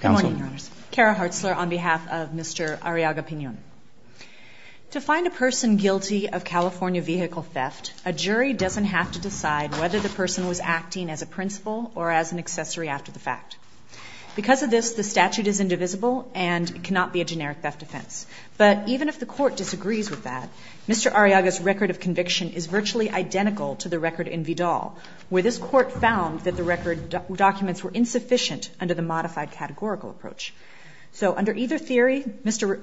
Good morning, Your Honors. Cara Hartzler on behalf of Mr. Arriaga-Pinon. To find a person guilty of California vehicle theft, a jury doesn't have to decide whether the person was acting as a principal or as an accessory after the fact. Because of this, the statute is indivisible and cannot be a generic theft offense. But even if the court disagrees with that, Mr. Arriaga's record of conviction is virtually identical to the record in Vidal, where this court found that the record documents were insufficient under the modified categorical approach. So, under either theory, Mr.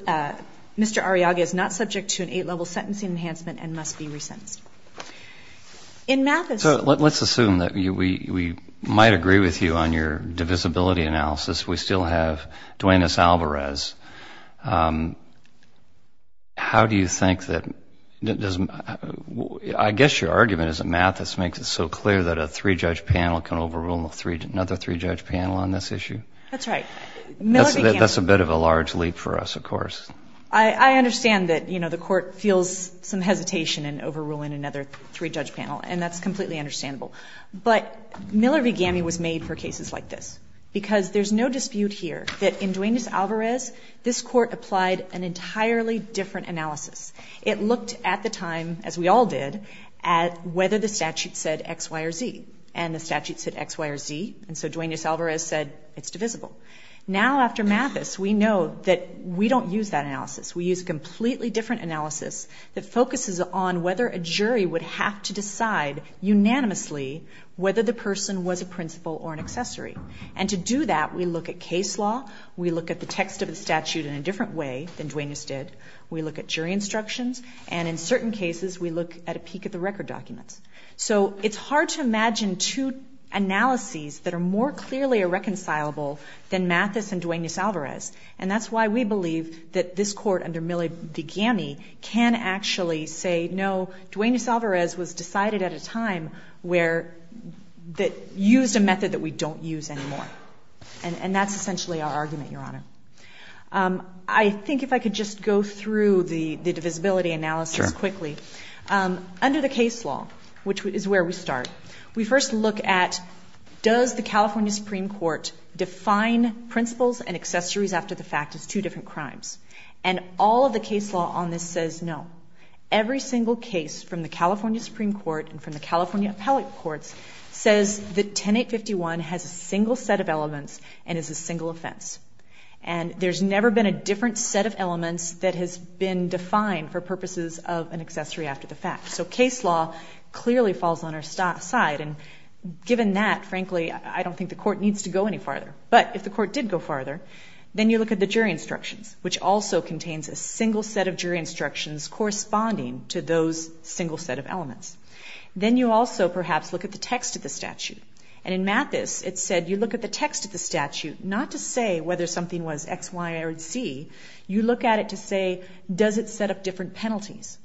Arriaga is not subject to an eight-level sentencing enhancement and must be resentenced. In Mathis... So, let's assume that we might agree with you on your divisibility analysis. We still have Duane S. Alvarez. How do you think that... I guess your argument is that Mathis makes it so clear that a three-judge panel can overrule another three-judge panel on this issue. That's right. Miller v. Gammey... That's a bit of a large leap for us, of course. I understand that, you know, the court feels some hesitation in overruling another three-judge panel, and that's completely understandable. But Miller v. Gammey was made for cases like this because there's no dispute here that in Duane S. Alvarez, this court applied an entirely different analysis. It looked at the time, as we all did, at whether the statute said X, Y, or Z. And the statute said X, Y, or Z, and so Duane S. Alvarez said it's divisible. Now, after Mathis, we know that we don't use that analysis. We use a completely different analysis that focuses on whether a jury would have to decide unanimously whether the person was a principal or an accessory. And to do that, we look at case law, we look at the text of the statute in a different way than Duane S. did, we look at jury instructions, and in certain cases, we look at a peek at the record documents. So it's hard to imagine two analyses that are more clearly irreconcilable than Mathis and Duane S. Alvarez. And that's why we believe that this court under Miller v. Gammey can actually say, no, Duane S. Alvarez was decided at a time where that used a method that we don't use anymore. And that's essentially our argument, Your Honor. I think if I could just go through the divisibility analysis quickly. Under the case law, which is where we start, we first look at does the California Supreme Court define principals and accessories after the fact as two different crimes? And all of the case law on this says no. Every single case from the California Supreme Court and from the California appellate courts says that 10851 has a single set of elements and is a single offense. And there's never been a different set of elements that has been defined for purposes of an accessory after the fact. So case law clearly falls on our side. And given that, frankly, I don't think the court needs to go any farther. But if the court did go farther, then you look at the jury instructions, which also contains a single set of jury instructions corresponding to those single set of elements. Then you also perhaps look at the text of the statute. And in Mathis, it said you look at the text of the statute not to say whether something was X, Y, or Z. You look at it to say does it set up different penalties?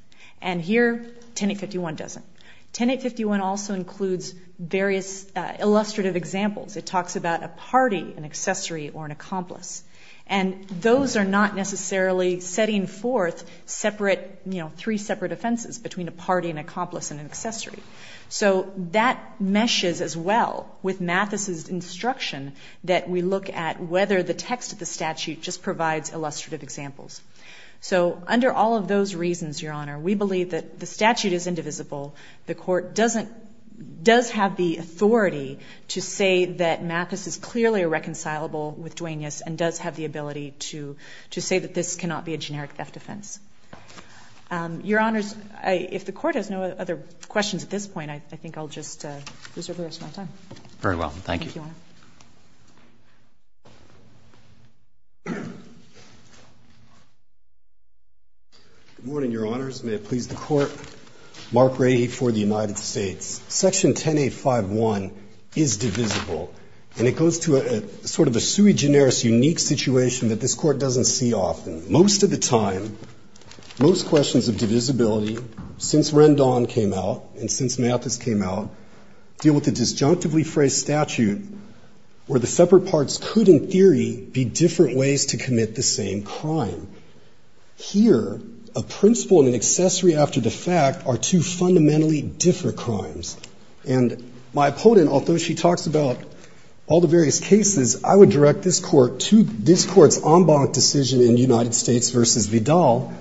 And here, 10851 doesn't. 10851 also includes various illustrative examples. It talks about a party, an accessory, or an accomplice. And those are not necessarily setting forth separate, you know, three separate offenses between a party, an accomplice, and an accessory. So that meshes as well with Mathis's instruction that we look at whether the text of the statute just provides illustrative examples. So under all of those reasons, Your Honor, we believe that the statute is indivisible. The court doesn't, does have the authority to say that Mathis is clearly a reconcilable with Duaneus and does have the ability to say that this cannot be a generic theft offense. Your Honors, if the Court has no other questions at this point, I think I'll just reserve the rest of my time. Very well. Thank you. Thank you, Your Honor. Good morning, Your Honors. May it please the Court. Mark Rahe for the United States. Section 10851 is divisible. And it goes to a sort of a sui generis unique situation that this Court doesn't see often. Most of the time, most questions of divisibility, since Rendon came out and since Mathis came out, deal with the disjunctively phrased statute where the separate parts could, in theory, be different ways to commit the same crime. Here, a principle and an accessory after the fact are two fundamentally different crimes. And my opponent, although she talks about all the various cases, I would direct this Court to this Court's en banc decision in United States versus Vidal,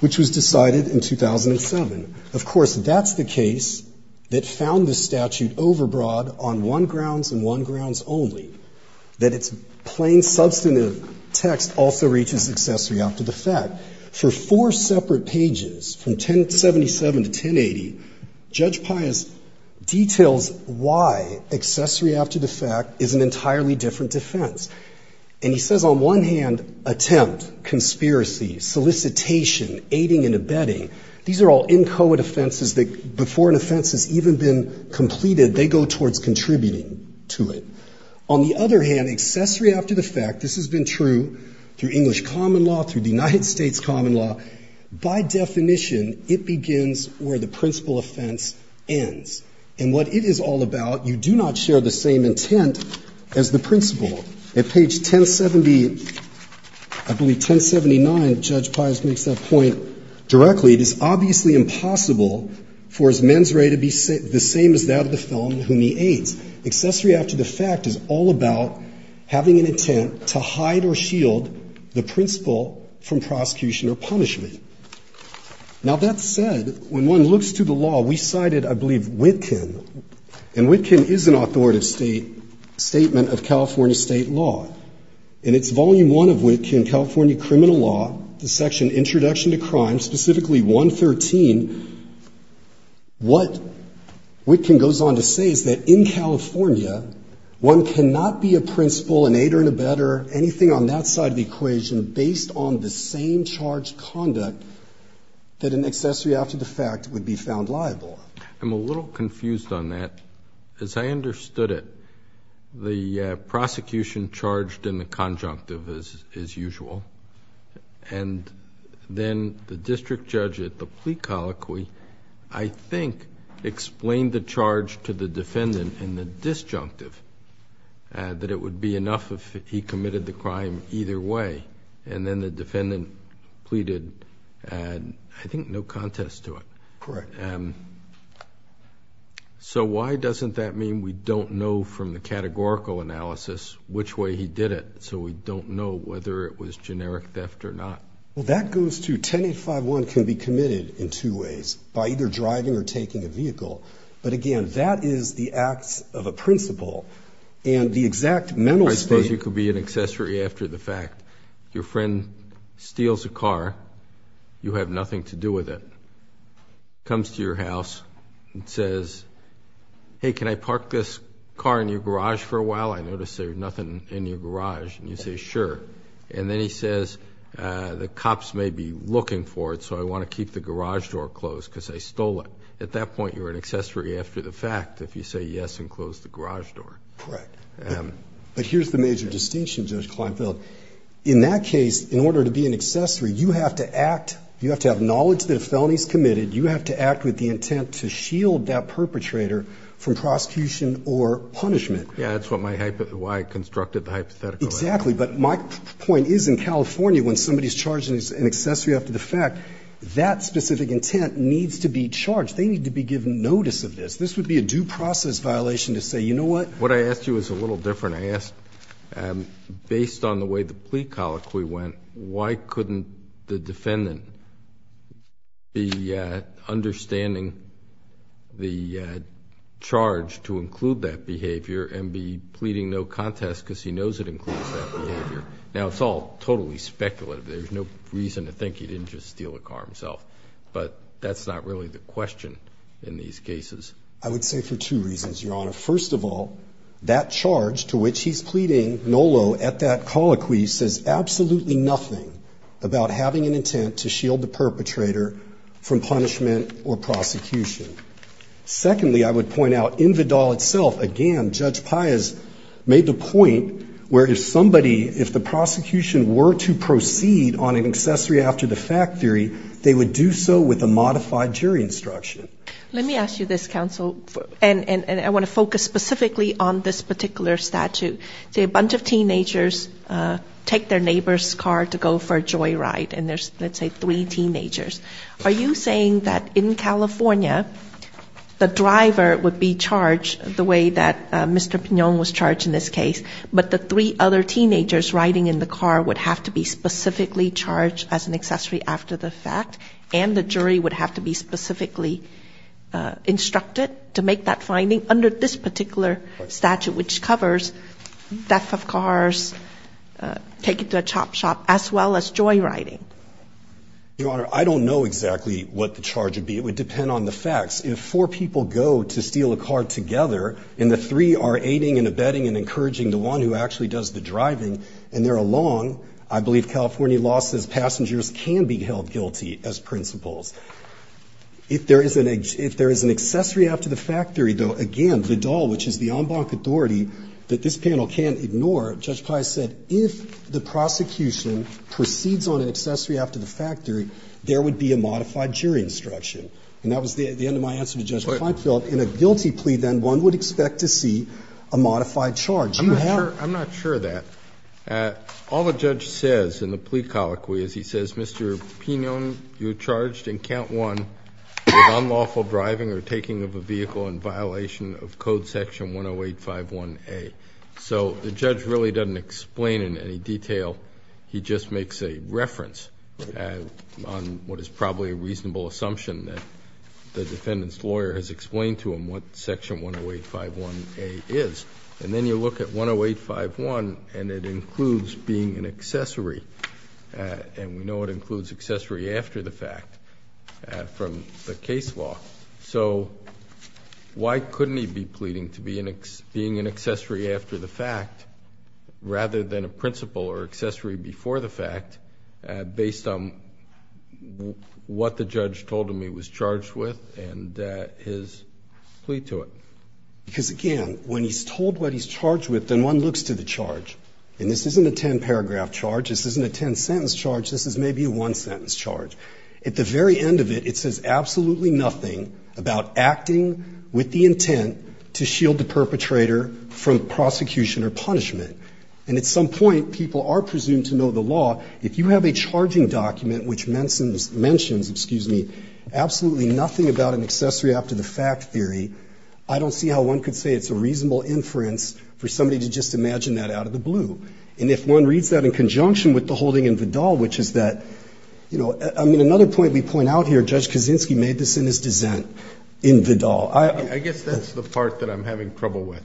which was decided in 2007. Of course, that's the case that found the statute overbroad on one grounds and one grounds only, that its plain substantive text also reaches accessory after the fact. For four separate pages, from 1077 to 1080, Judge Pius details why accessory after the fact is an entirely different defense. And he says on one hand, attempt, conspiracy, solicitation, aiding and abetting, these are all inchoate offenses that before an offense has even been completed, they go towards contributing to it. On the other hand, accessory after the fact, this has been true through English common law, through the United States common law, by definition, it begins where the principle offense ends. And what it is all about, you do not share the same intent as the principle. At page 1070, I believe 1079, Judge Pius makes that point directly. It is obviously impossible for his mens rea to be the same as that of the felon whom he aids. Accessory after the fact is all about having an intent to hide or shield the principle from prosecution or punishment. Now that said, when one looks to the law, we cited, I believe, Witkin, and Witkin is an authoritative statement of California state law. In its volume one of Witkin, California criminal law, the section introduction to crime, specifically 113, what Witkin goes on to say is that in California, one cannot be a principle, an aider and abetter, anything on that side of the equation, based on the same charged conduct that an accessory after the fact would be found liable. I'm a little confused on that. As I understood it, the prosecution charged in the colloquy, I think, explained the charge to the defendant in the disjunctive, that it would be enough if he committed the crime either way, and then the defendant pleaded, I think, no contest to it. Correct. So why doesn't that mean we don't know from the categorical analysis which way he did it, so we don't know whether it was generic theft or not? Well, that goes to 10851 can be committed in two ways, by either driving or taking a vehicle. But again, that is the acts of a principle, and the exact mental state... I suppose you could be an accessory after the fact. Your friend steals a car, you have nothing to do with it, comes to your house and says, hey, can I park this car in your garage for a while? I notice there's nothing in your garage. And you say, sure. And then he says, the cops may be looking for it, so I want to keep the garage door closed because I stole it. At that point, you're an accessory after the fact if you say yes and close the garage door. Correct. But here's the major distinction, Judge Kleinfeld. In that case, in order to be an accessory, you have to act, you have to have knowledge that a felony is committed, you have to act with the intent to shield that perpetrator from prosecution or punishment. Yeah, that's why I constructed the hypothetical. Exactly. But my point is, in California, when somebody's charged as an accessory after the fact, that specific intent needs to be charged. They need to be given notice of this. This would be a due process violation to say, you know what... What I asked you is a little different. I asked, based on the way the plea colloquy went, why couldn't the defendant be understanding the charge to include that behavior and be pleading no contest because he knows it includes that behavior? Now, it's all totally speculative. There's no reason to think he didn't just steal a car himself. But that's not really the question in these cases. First of all, that charge to which he's pleading NOLO at that colloquy says absolutely nothing about having an intent to shield the perpetrator from punishment or prosecution. Secondly, I would point out, in Vidal itself, again, Judge Piaz made the point where if somebody, if the prosecution were to proceed on an accessory after the fact theory, they would do so with a modified jury instruction. Let me ask you this, counsel, and I want to focus specifically on this particular statute. Say a bunch of teenagers take their neighbor's car to go for a joyride, and there's, let's say, three teenagers. Are you saying that in California, the driver would be charged the way that Mr. Pignon was charged in this case, but the three other teenagers riding in the car would have to be specifically charged as an accessory after the fact, and the jury would have to be specifically instructed to make that finding under this particular statute, which covers theft of cars, taking to a chop shop, as well as joyriding? Your Honor, I don't know exactly what the charge would be. It would depend on the facts. If four people go to steal a car together, and the three are aiding and abetting and encouraging the one who actually does the driving, and they're along, I believe California law says passengers can be held guilty as principals. If there is an accessory after the fact theory, though, again, Vidal, which is the en banc authority that this panel can't ignore, Judge Pius said, if the prosecution proceeds on an accessory after the fact theory, there would be a modified jury instruction. And that was the end of my answer to Judge Feinfeld. In a guilty plea, then, one would expect to see a modified charge. I'm not sure of that. All the judge says in the plea colloquy is he says, Mr. Pinon, you're charged in count one with unlawful driving or taking of a vehicle in violation of code section 10851A. So the judge really doesn't explain in any detail. He just makes a reference on what is probably a reasonable assumption that the defendant's lawyer has explained to him what section 10851A is. And then you look at 10851, and it includes being an accessory. And we know it includes accessory after the fact from the case law. So why couldn't he be pleading to being an accessory after the fact rather than a principal or accessory before the fact based on what the judge told him he was charged with and his plea to it? Because, again, when he's told what he's charged with, then one looks to the charge. And this isn't a ten-paragraph charge. This isn't a ten-sentence charge. This is maybe a one-sentence charge. At the very end of it, it says absolutely nothing about acting with the intent to shield the perpetrator from prosecution or punishment. And at some point, people are presumed to know the law. If you have a charging document which mentions, excuse me, absolutely nothing about an accessory after the fact theory, I don't see how one could say it's a reasonable inference for somebody to just imagine that out of the blue. And if one reads that in conjunction with the holding in Vidal, which is that, you know, I mean, another point we point out here, Judge Kaczynski made this in his dissent in Vidal. I guess that's the part that I'm having trouble with.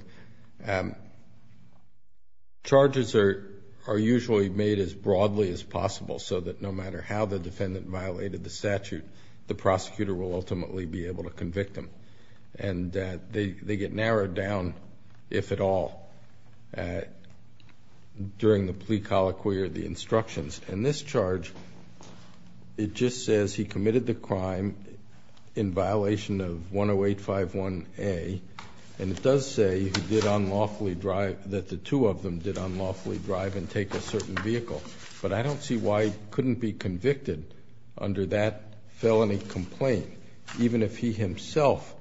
Charges are usually made as broadly as possible so that no matter how the defendant violated the statute, the prosecutor will ultimately be able to convict them. And they get narrowed down, if at all, during the plea colloquy or the instructions. In this charge, it just says he committed the crime in violation of 10851A, and it does say that the two of them did unlawfully drive and take a certain vehicle. But I don't see why he couldn't be convicted under that felony complaint, even if he himself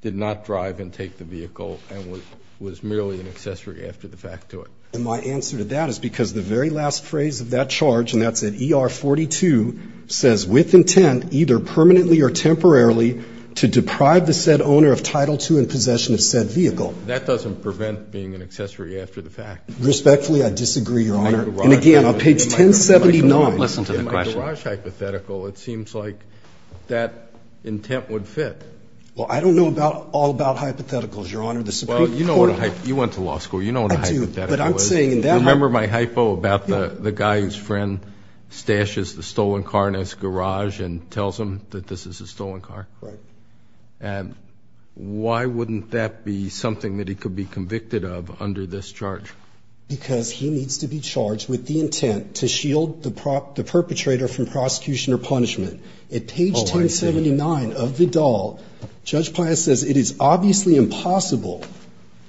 did not drive and take the vehicle and was merely an accessory after the fact to it. And my answer to that is because the very last phrase of that charge, and that's at ER 42, says, with intent, either permanently or temporarily, to deprive the said owner of Title II in possession of said vehicle. That doesn't prevent being an accessory after the fact. Respectfully, I disagree, Your Honor. And, again, on page 1079. Listen to the question. In my garage hypothetical, it seems like that intent would fit. Well, I don't know all about hypotheticals, Your Honor. The Supreme Court – Well, you know what a – you went to law school. You know what a hypothetical is. I do, but I'm saying in that – Remember my hypo about the guy whose friend stashes the stolen car in his garage and tells him that this is a stolen car? Right. And why wouldn't that be something that he could be convicted of under this charge? Because he needs to be charged with the intent to shield the perpetrator from prosecution or punishment. Oh, I see. At page 1079 of the Dahl, Judge Pius says, it is obviously impossible –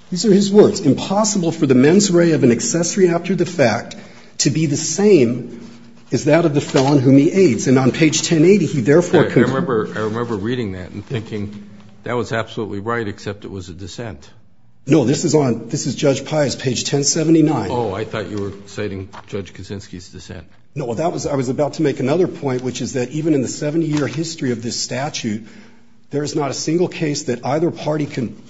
these are his words – impossible for the mens rea of an accessory after the fact to be the same as that of the felon whom he aids. And on page 1080, he therefore could – I remember reading that and thinking that was absolutely right, except it was a dissent. No, this is on – this is Judge Pius, page 1079. Oh, I thought you were citing Judge Kuczynski's dissent. No, that was – I was about to make another point, which is that even in the 70-year history of this statute, there is not a single case that either party can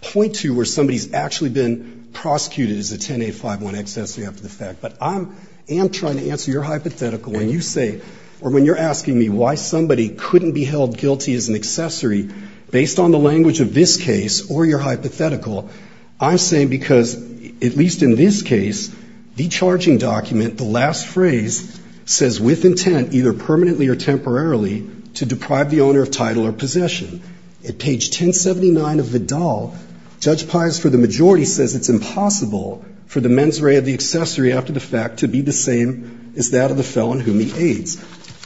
point to where somebody's actually been prosecuted as a 10-8-5-1 accessory after the fact. But I am trying to answer your hypothetical when you say – or when you're asking me why somebody couldn't be held guilty as an accessory based on the language of this case or your hypothetical. I'm saying because, at least in this case, the charging document, the last phrase, says, with intent, either permanently or temporarily, to deprive the owner of title or possession. At page 1079 of the Dahl, Judge Pius, for the majority, says it's impossible for the mens rea of the accessory after the fact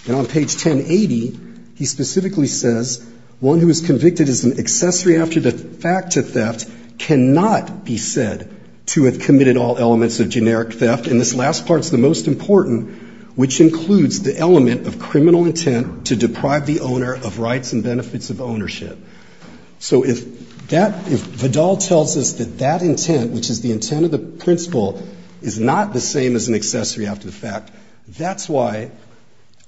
And on page 1080, he specifically says, one who is convicted as an accessory after the fact to theft cannot be said to have committed all elements of generic theft. And this last part's the most important, which includes the element of criminal intent to deprive the owner of rights and benefits of ownership. So if that – if the Dahl tells us that that intent, which is the intent of the principle, is not the same as an accessory after the fact, that's why,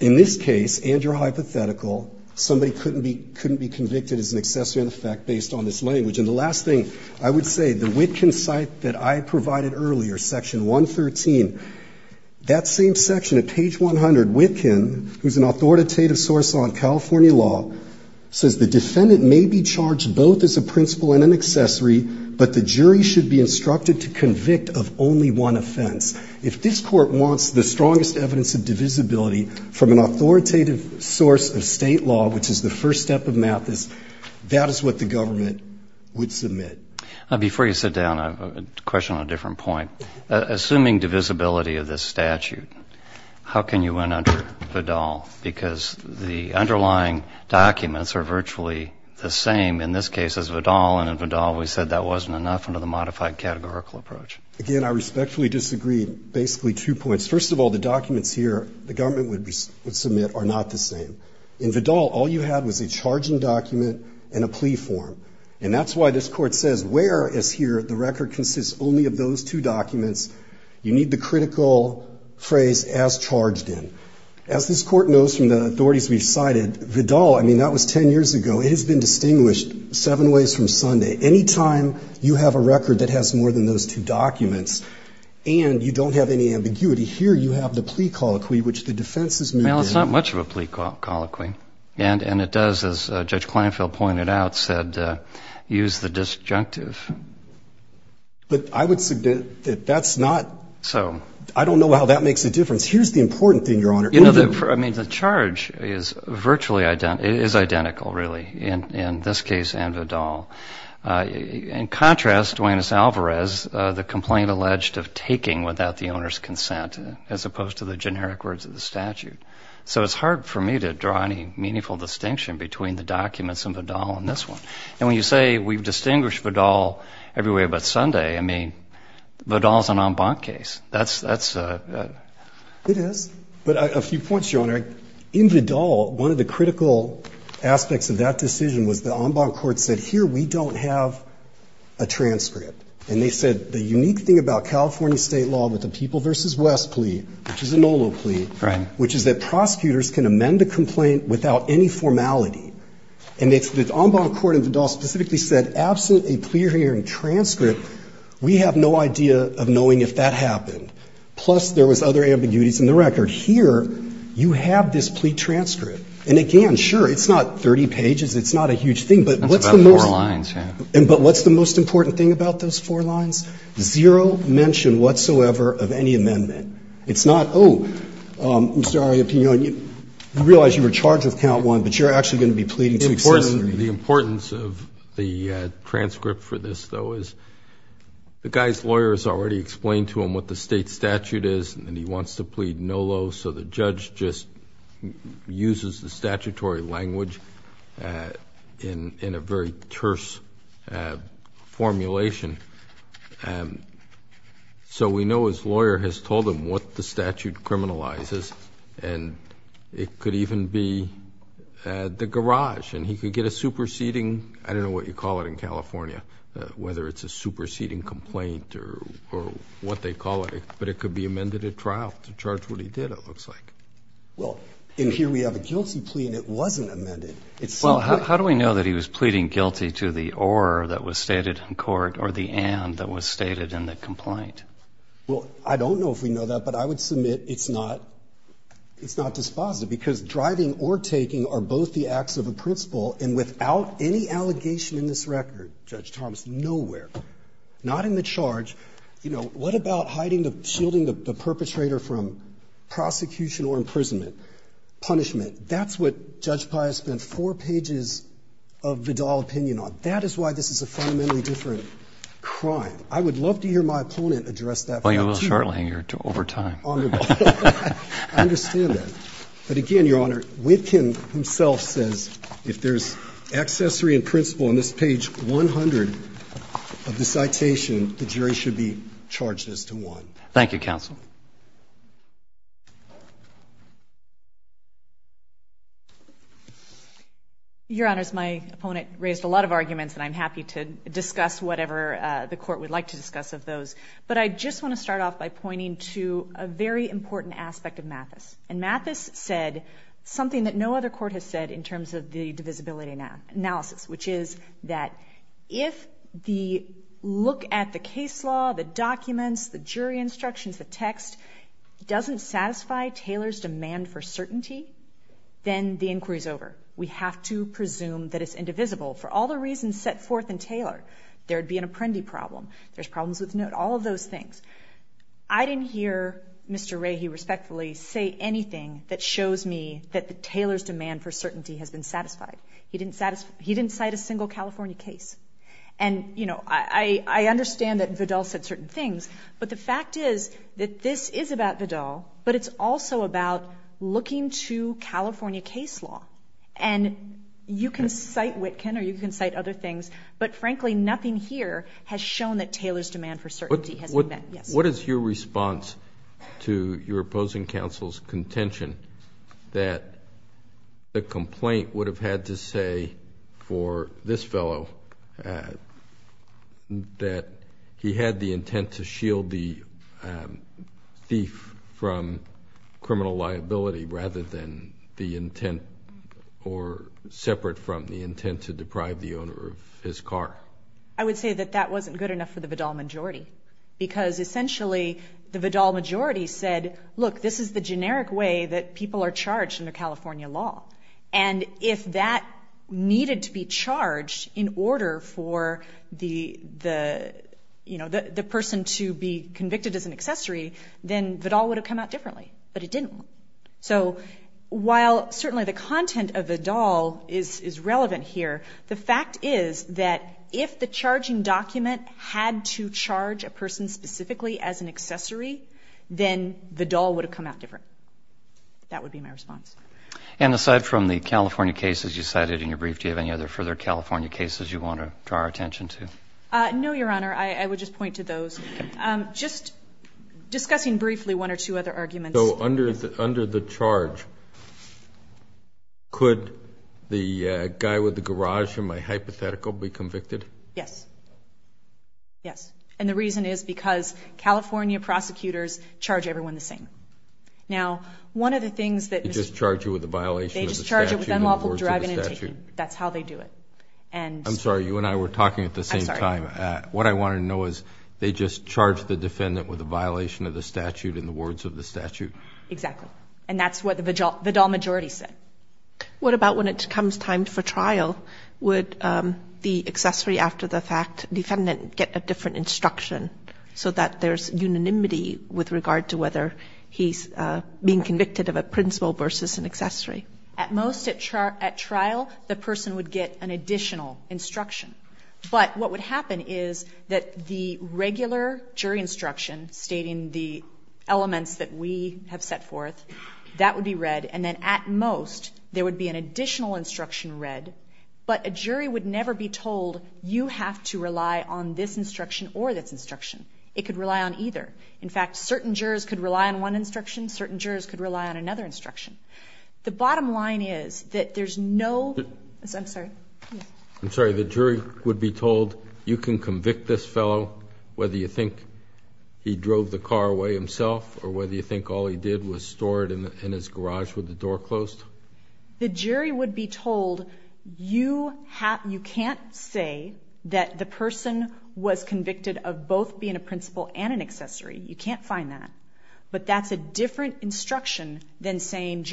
in this case, and your hypothetical, somebody couldn't be convicted as an accessory in effect based on this language. And the last thing I would say, the Witkin site that I provided earlier, section 113, that same section at page 100, Witkin, who's an authoritative source on California law, says the defendant may be charged both as a principle and an accessory, but the jury should be instructed to convict of only one offense. If this Court wants the strongest evidence of divisibility from an authoritative source of State law, which is the first step of Mathis, that is what the government would submit. Before you sit down, I have a question on a different point. Assuming divisibility of this statute, how can you win under Vidal? Because the underlying documents are virtually the same in this case as Vidal, and in Vidal we said that wasn't enough under the modified categorical approach. Again, I respectfully disagree basically two points. First of all, the documents here the government would submit are not the same. In Vidal, all you had was a charging document and a plea form, and that's why this Court says where is here the record consists only of those two documents. You need the critical phrase, as charged in. As this Court knows from the authorities we've cited, Vidal, I mean, that was ten years ago. It has been distinguished seven ways from Sunday. Any time you have a record that has more than those two documents and you don't have any ambiguity, here you have the plea colloquy, which the defense has moved in. Well, it's not much of a plea colloquy, and it does, as Judge Kleinfeld pointed out, use the disjunctive. But I would submit that that's not so. I don't know how that makes a difference. Here's the important thing, Your Honor. I mean, the charge is virtually identical, is identical, really, in this case and Vidal. In contrast, Duane S. Alvarez, the complaint alleged of taking without the owner's consent, as opposed to the generic words of the statute. So it's hard for me to draw any meaningful distinction between the documents in Vidal and this one. And when you say we've distinguished Vidal every way but Sunday, I mean, Vidal's an en banc case. It is. But a few points, Your Honor. In Vidal, one of the critical aspects of that decision was the en banc court said, here we don't have a transcript. And they said the unique thing about California state law with the People v. West plea, which is a NOLO plea, which is that prosecutors can amend a complaint without any formality. And the en banc court in Vidal specifically said, absent a clear hearing transcript, we have no idea of knowing if that happened. Plus, there was other ambiguities in the record. Here, you have this plea transcript. And, again, sure, it's not 30 pages. It's not a huge thing. But what's the most. That's about four lines, yeah. But what's the most important thing about those four lines? Zero mention whatsoever of any amendment. It's not, oh, I'm sorry, you realize you were charged with count one, but you're actually going to be pleading to accessory. The importance of the transcript for this, though, is the guy's lawyer has already explained to him what the state statute is, and he wants to plead NOLO, so the judge just uses the statutory language in a very terse formulation. So we know his lawyer has told him what the statute criminalizes, and it could even be the garage. And he could get a superseding, I don't know what you call it in California, whether it's a superseding complaint or what they call it, but it could be amended at trial to charge what he did, it looks like. Well, in here we have a guilty plea, and it wasn't amended. How do we know that he was pleading guilty to the or that was stated in court or the and that was stated in the complaint? Well, I don't know if we know that, but I would submit it's not dispositive because driving or taking are both the acts of a principal, and without any allegation in this record, Judge Thomas, nowhere. Not in the charge. You know, what about hiding, shielding the perpetrator from prosecution or imprisonment, punishment? That's what Judge Pius spent four pages of Vidal opinion on. That is why this is a fundamentally different crime. I would love to hear my opponent address that. Well, you will shortly. You're over time. I understand that. But, again, Your Honor, Witkin himself says if there's accessory and principal on this page 100 of the citation, the jury should be charged as to one. Thank you, counsel. Your Honors, my opponent raised a lot of arguments, and I'm happy to discuss whatever the court would like to discuss of those. But I just want to start off by pointing to a very important aspect of Mathis. And Mathis said something that no other court has said in terms of the divisibility analysis, which is that if the look at the case law, the documents, the jury instructions, the text doesn't satisfy Taylor's demand for certainty, then the inquiry is over. We have to presume that it's indivisible. For all the reasons set forth in Taylor, there would be an apprendi problem, there's problems with note, all of those things. I didn't hear Mr. Rahy respectfully say anything that shows me that Taylor's demand for certainty has been satisfied. He didn't cite a single California case. And, you know, I understand that Vidal said certain things, but the fact is that this is about Vidal, but it's also about looking to California case law. And you can cite Witkin or you can cite other things, but, frankly, nothing here has shown that Taylor's demand for certainty has been met. What is your response to your opposing counsel's contention that the complaint would have had to say for this fellow that he had the intent to shield the thief from criminal liability rather than the intent or separate from the intent to deprive the owner of his car? I would say that that wasn't good enough for the Vidal majority because, essentially, the Vidal majority said, look, this is the generic way that people are charged under California law. And if that needed to be charged in order for the person to be convicted as an accessory, then Vidal would have come out differently, but it didn't. So while certainly the content of Vidal is relevant here, the fact is that if the charging document had to charge a person specifically as an accessory, then Vidal would have come out different. That would be my response. And aside from the California cases you cited in your brief, do you have any other further California cases you want to draw our attention to? No, Your Honor. I would just point to those. Just discussing briefly one or two other arguments. So under the charge, could the guy with the garage in my hypothetical be convicted? Yes. Yes. And the reason is because California prosecutors charge everyone the same. Now, one of the things that Mr. ---- They just charge you with a violation of the statute in the words of the statute. They just charge you with unlawful driving and taking. That's how they do it. I'm sorry. You and I were talking at the same time. I'm sorry. What I wanted to know is, they just charge the defendant with a violation of the statute in the words of the statute? Exactly. And that's what the Vidal majority said. What about when it comes time for trial? Would the accessory after the fact defendant get a different instruction so that there's unanimity with regard to whether he's being convicted of a principle versus an accessory? At most at trial, the person would get an additional instruction. But what would happen is that the regular jury instruction stating the elements that we have set forth, that would be read, and then at most there would be an additional instruction read, but a jury would never be told you have to rely on this instruction or this instruction. It could rely on either. In fact, certain jurors could rely on one instruction. Certain jurors could rely on another instruction. The bottom line is that there's no ---- I'm sorry. I'm sorry. The jury would be told you can convict this fellow whether you think he drove the car away himself or whether you think all he did was store it in his garage with the door closed? The jury would be told you can't say that the person was convicted of both being a principle and an accessory. You can't find that. But that's a different instruction than saying,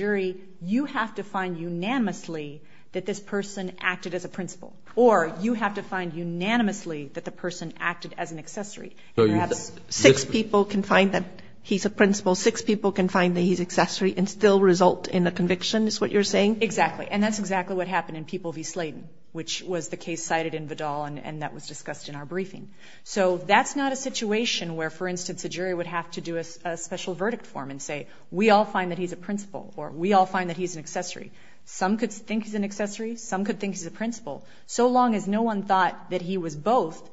you have to find unanimously that this person acted as a principle or you have to find unanimously that the person acted as an accessory. So six people can find that he's a principle, six people can find that he's an accessory and still result in a conviction is what you're saying? Exactly. And that's exactly what happened in People v. Slayton, which was the case cited in Vidal and that was discussed in our briefing. So that's not a situation where, for instance, a jury would have to do a special verdict for him and say, we all find that he's a principle or we all find that he's an accessory. Some could think he's an accessory. Some could think he's a principle. So long as no one thought that he was both,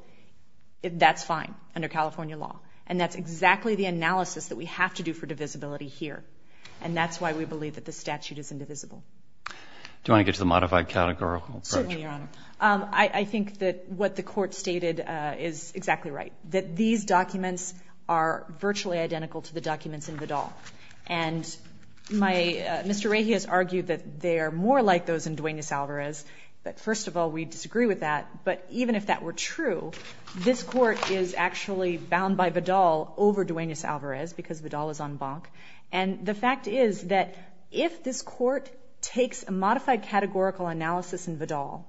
that's fine under California law. And that's exactly the analysis that we have to do for divisibility here. And that's why we believe that the statute is indivisible. Certainly, Your Honor. I think that what the Court stated is exactly right, that these documents are virtually identical to the documents in Vidal. And Mr. Reyes argued that they are more like those in Duenas-Alvarez. But first of all, we disagree with that. But even if that were true, this Court is actually bound by Vidal over Duenas-Alvarez because Vidal is en banc. And the fact is that if this Court takes a modified categorical analysis in Vidal,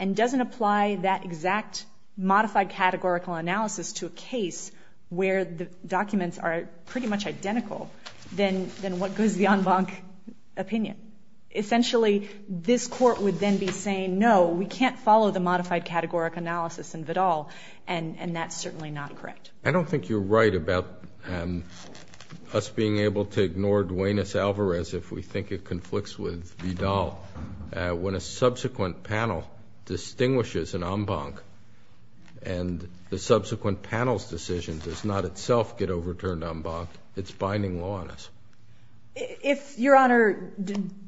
and doesn't apply that exact modified categorical analysis to a case where the documents are pretty much identical, then what goes the en banc opinion? Essentially, this Court would then be saying, no, we can't follow the modified categorical analysis in Vidal. And that's certainly not correct. I don't think you're right about us being able to ignore Duenas-Alvarez if we think it conflicts with Vidal. When a subsequent panel distinguishes an en banc and the subsequent panel's decision does not itself get overturned en banc, it's binding law on us. If Your Honor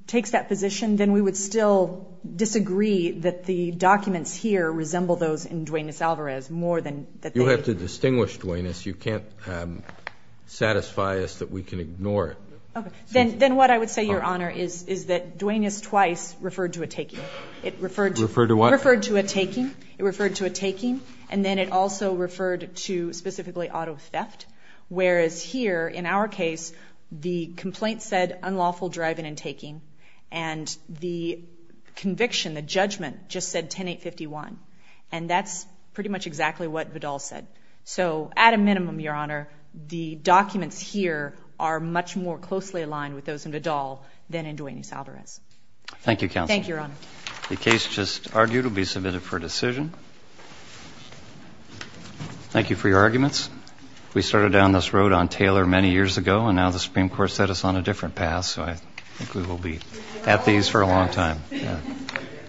takes that position, then we would still disagree that the documents here resemble those in Duenas-Alvarez more than that they do. You have to distinguish Duenas. You can't satisfy us that we can ignore it. Then what I would say, Your Honor, is that Duenas twice referred to a taking. Referred to what? Referred to a taking. It referred to a taking. And then it also referred to specifically auto theft. Whereas here, in our case, the complaint said unlawful driving and taking. And the conviction, the judgment, just said 10851. And that's pretty much exactly what Vidal said. So at a minimum, Your Honor, the documents here are much more closely aligned with those in Vidal than in Duenas-Alvarez. Thank you, Counsel. Thank you, Your Honor. The case just argued will be submitted for decision. Thank you for your arguments. We started down this road on Taylor many years ago, and now the Supreme Court set us on a different path, so I think we will be at these for a long time.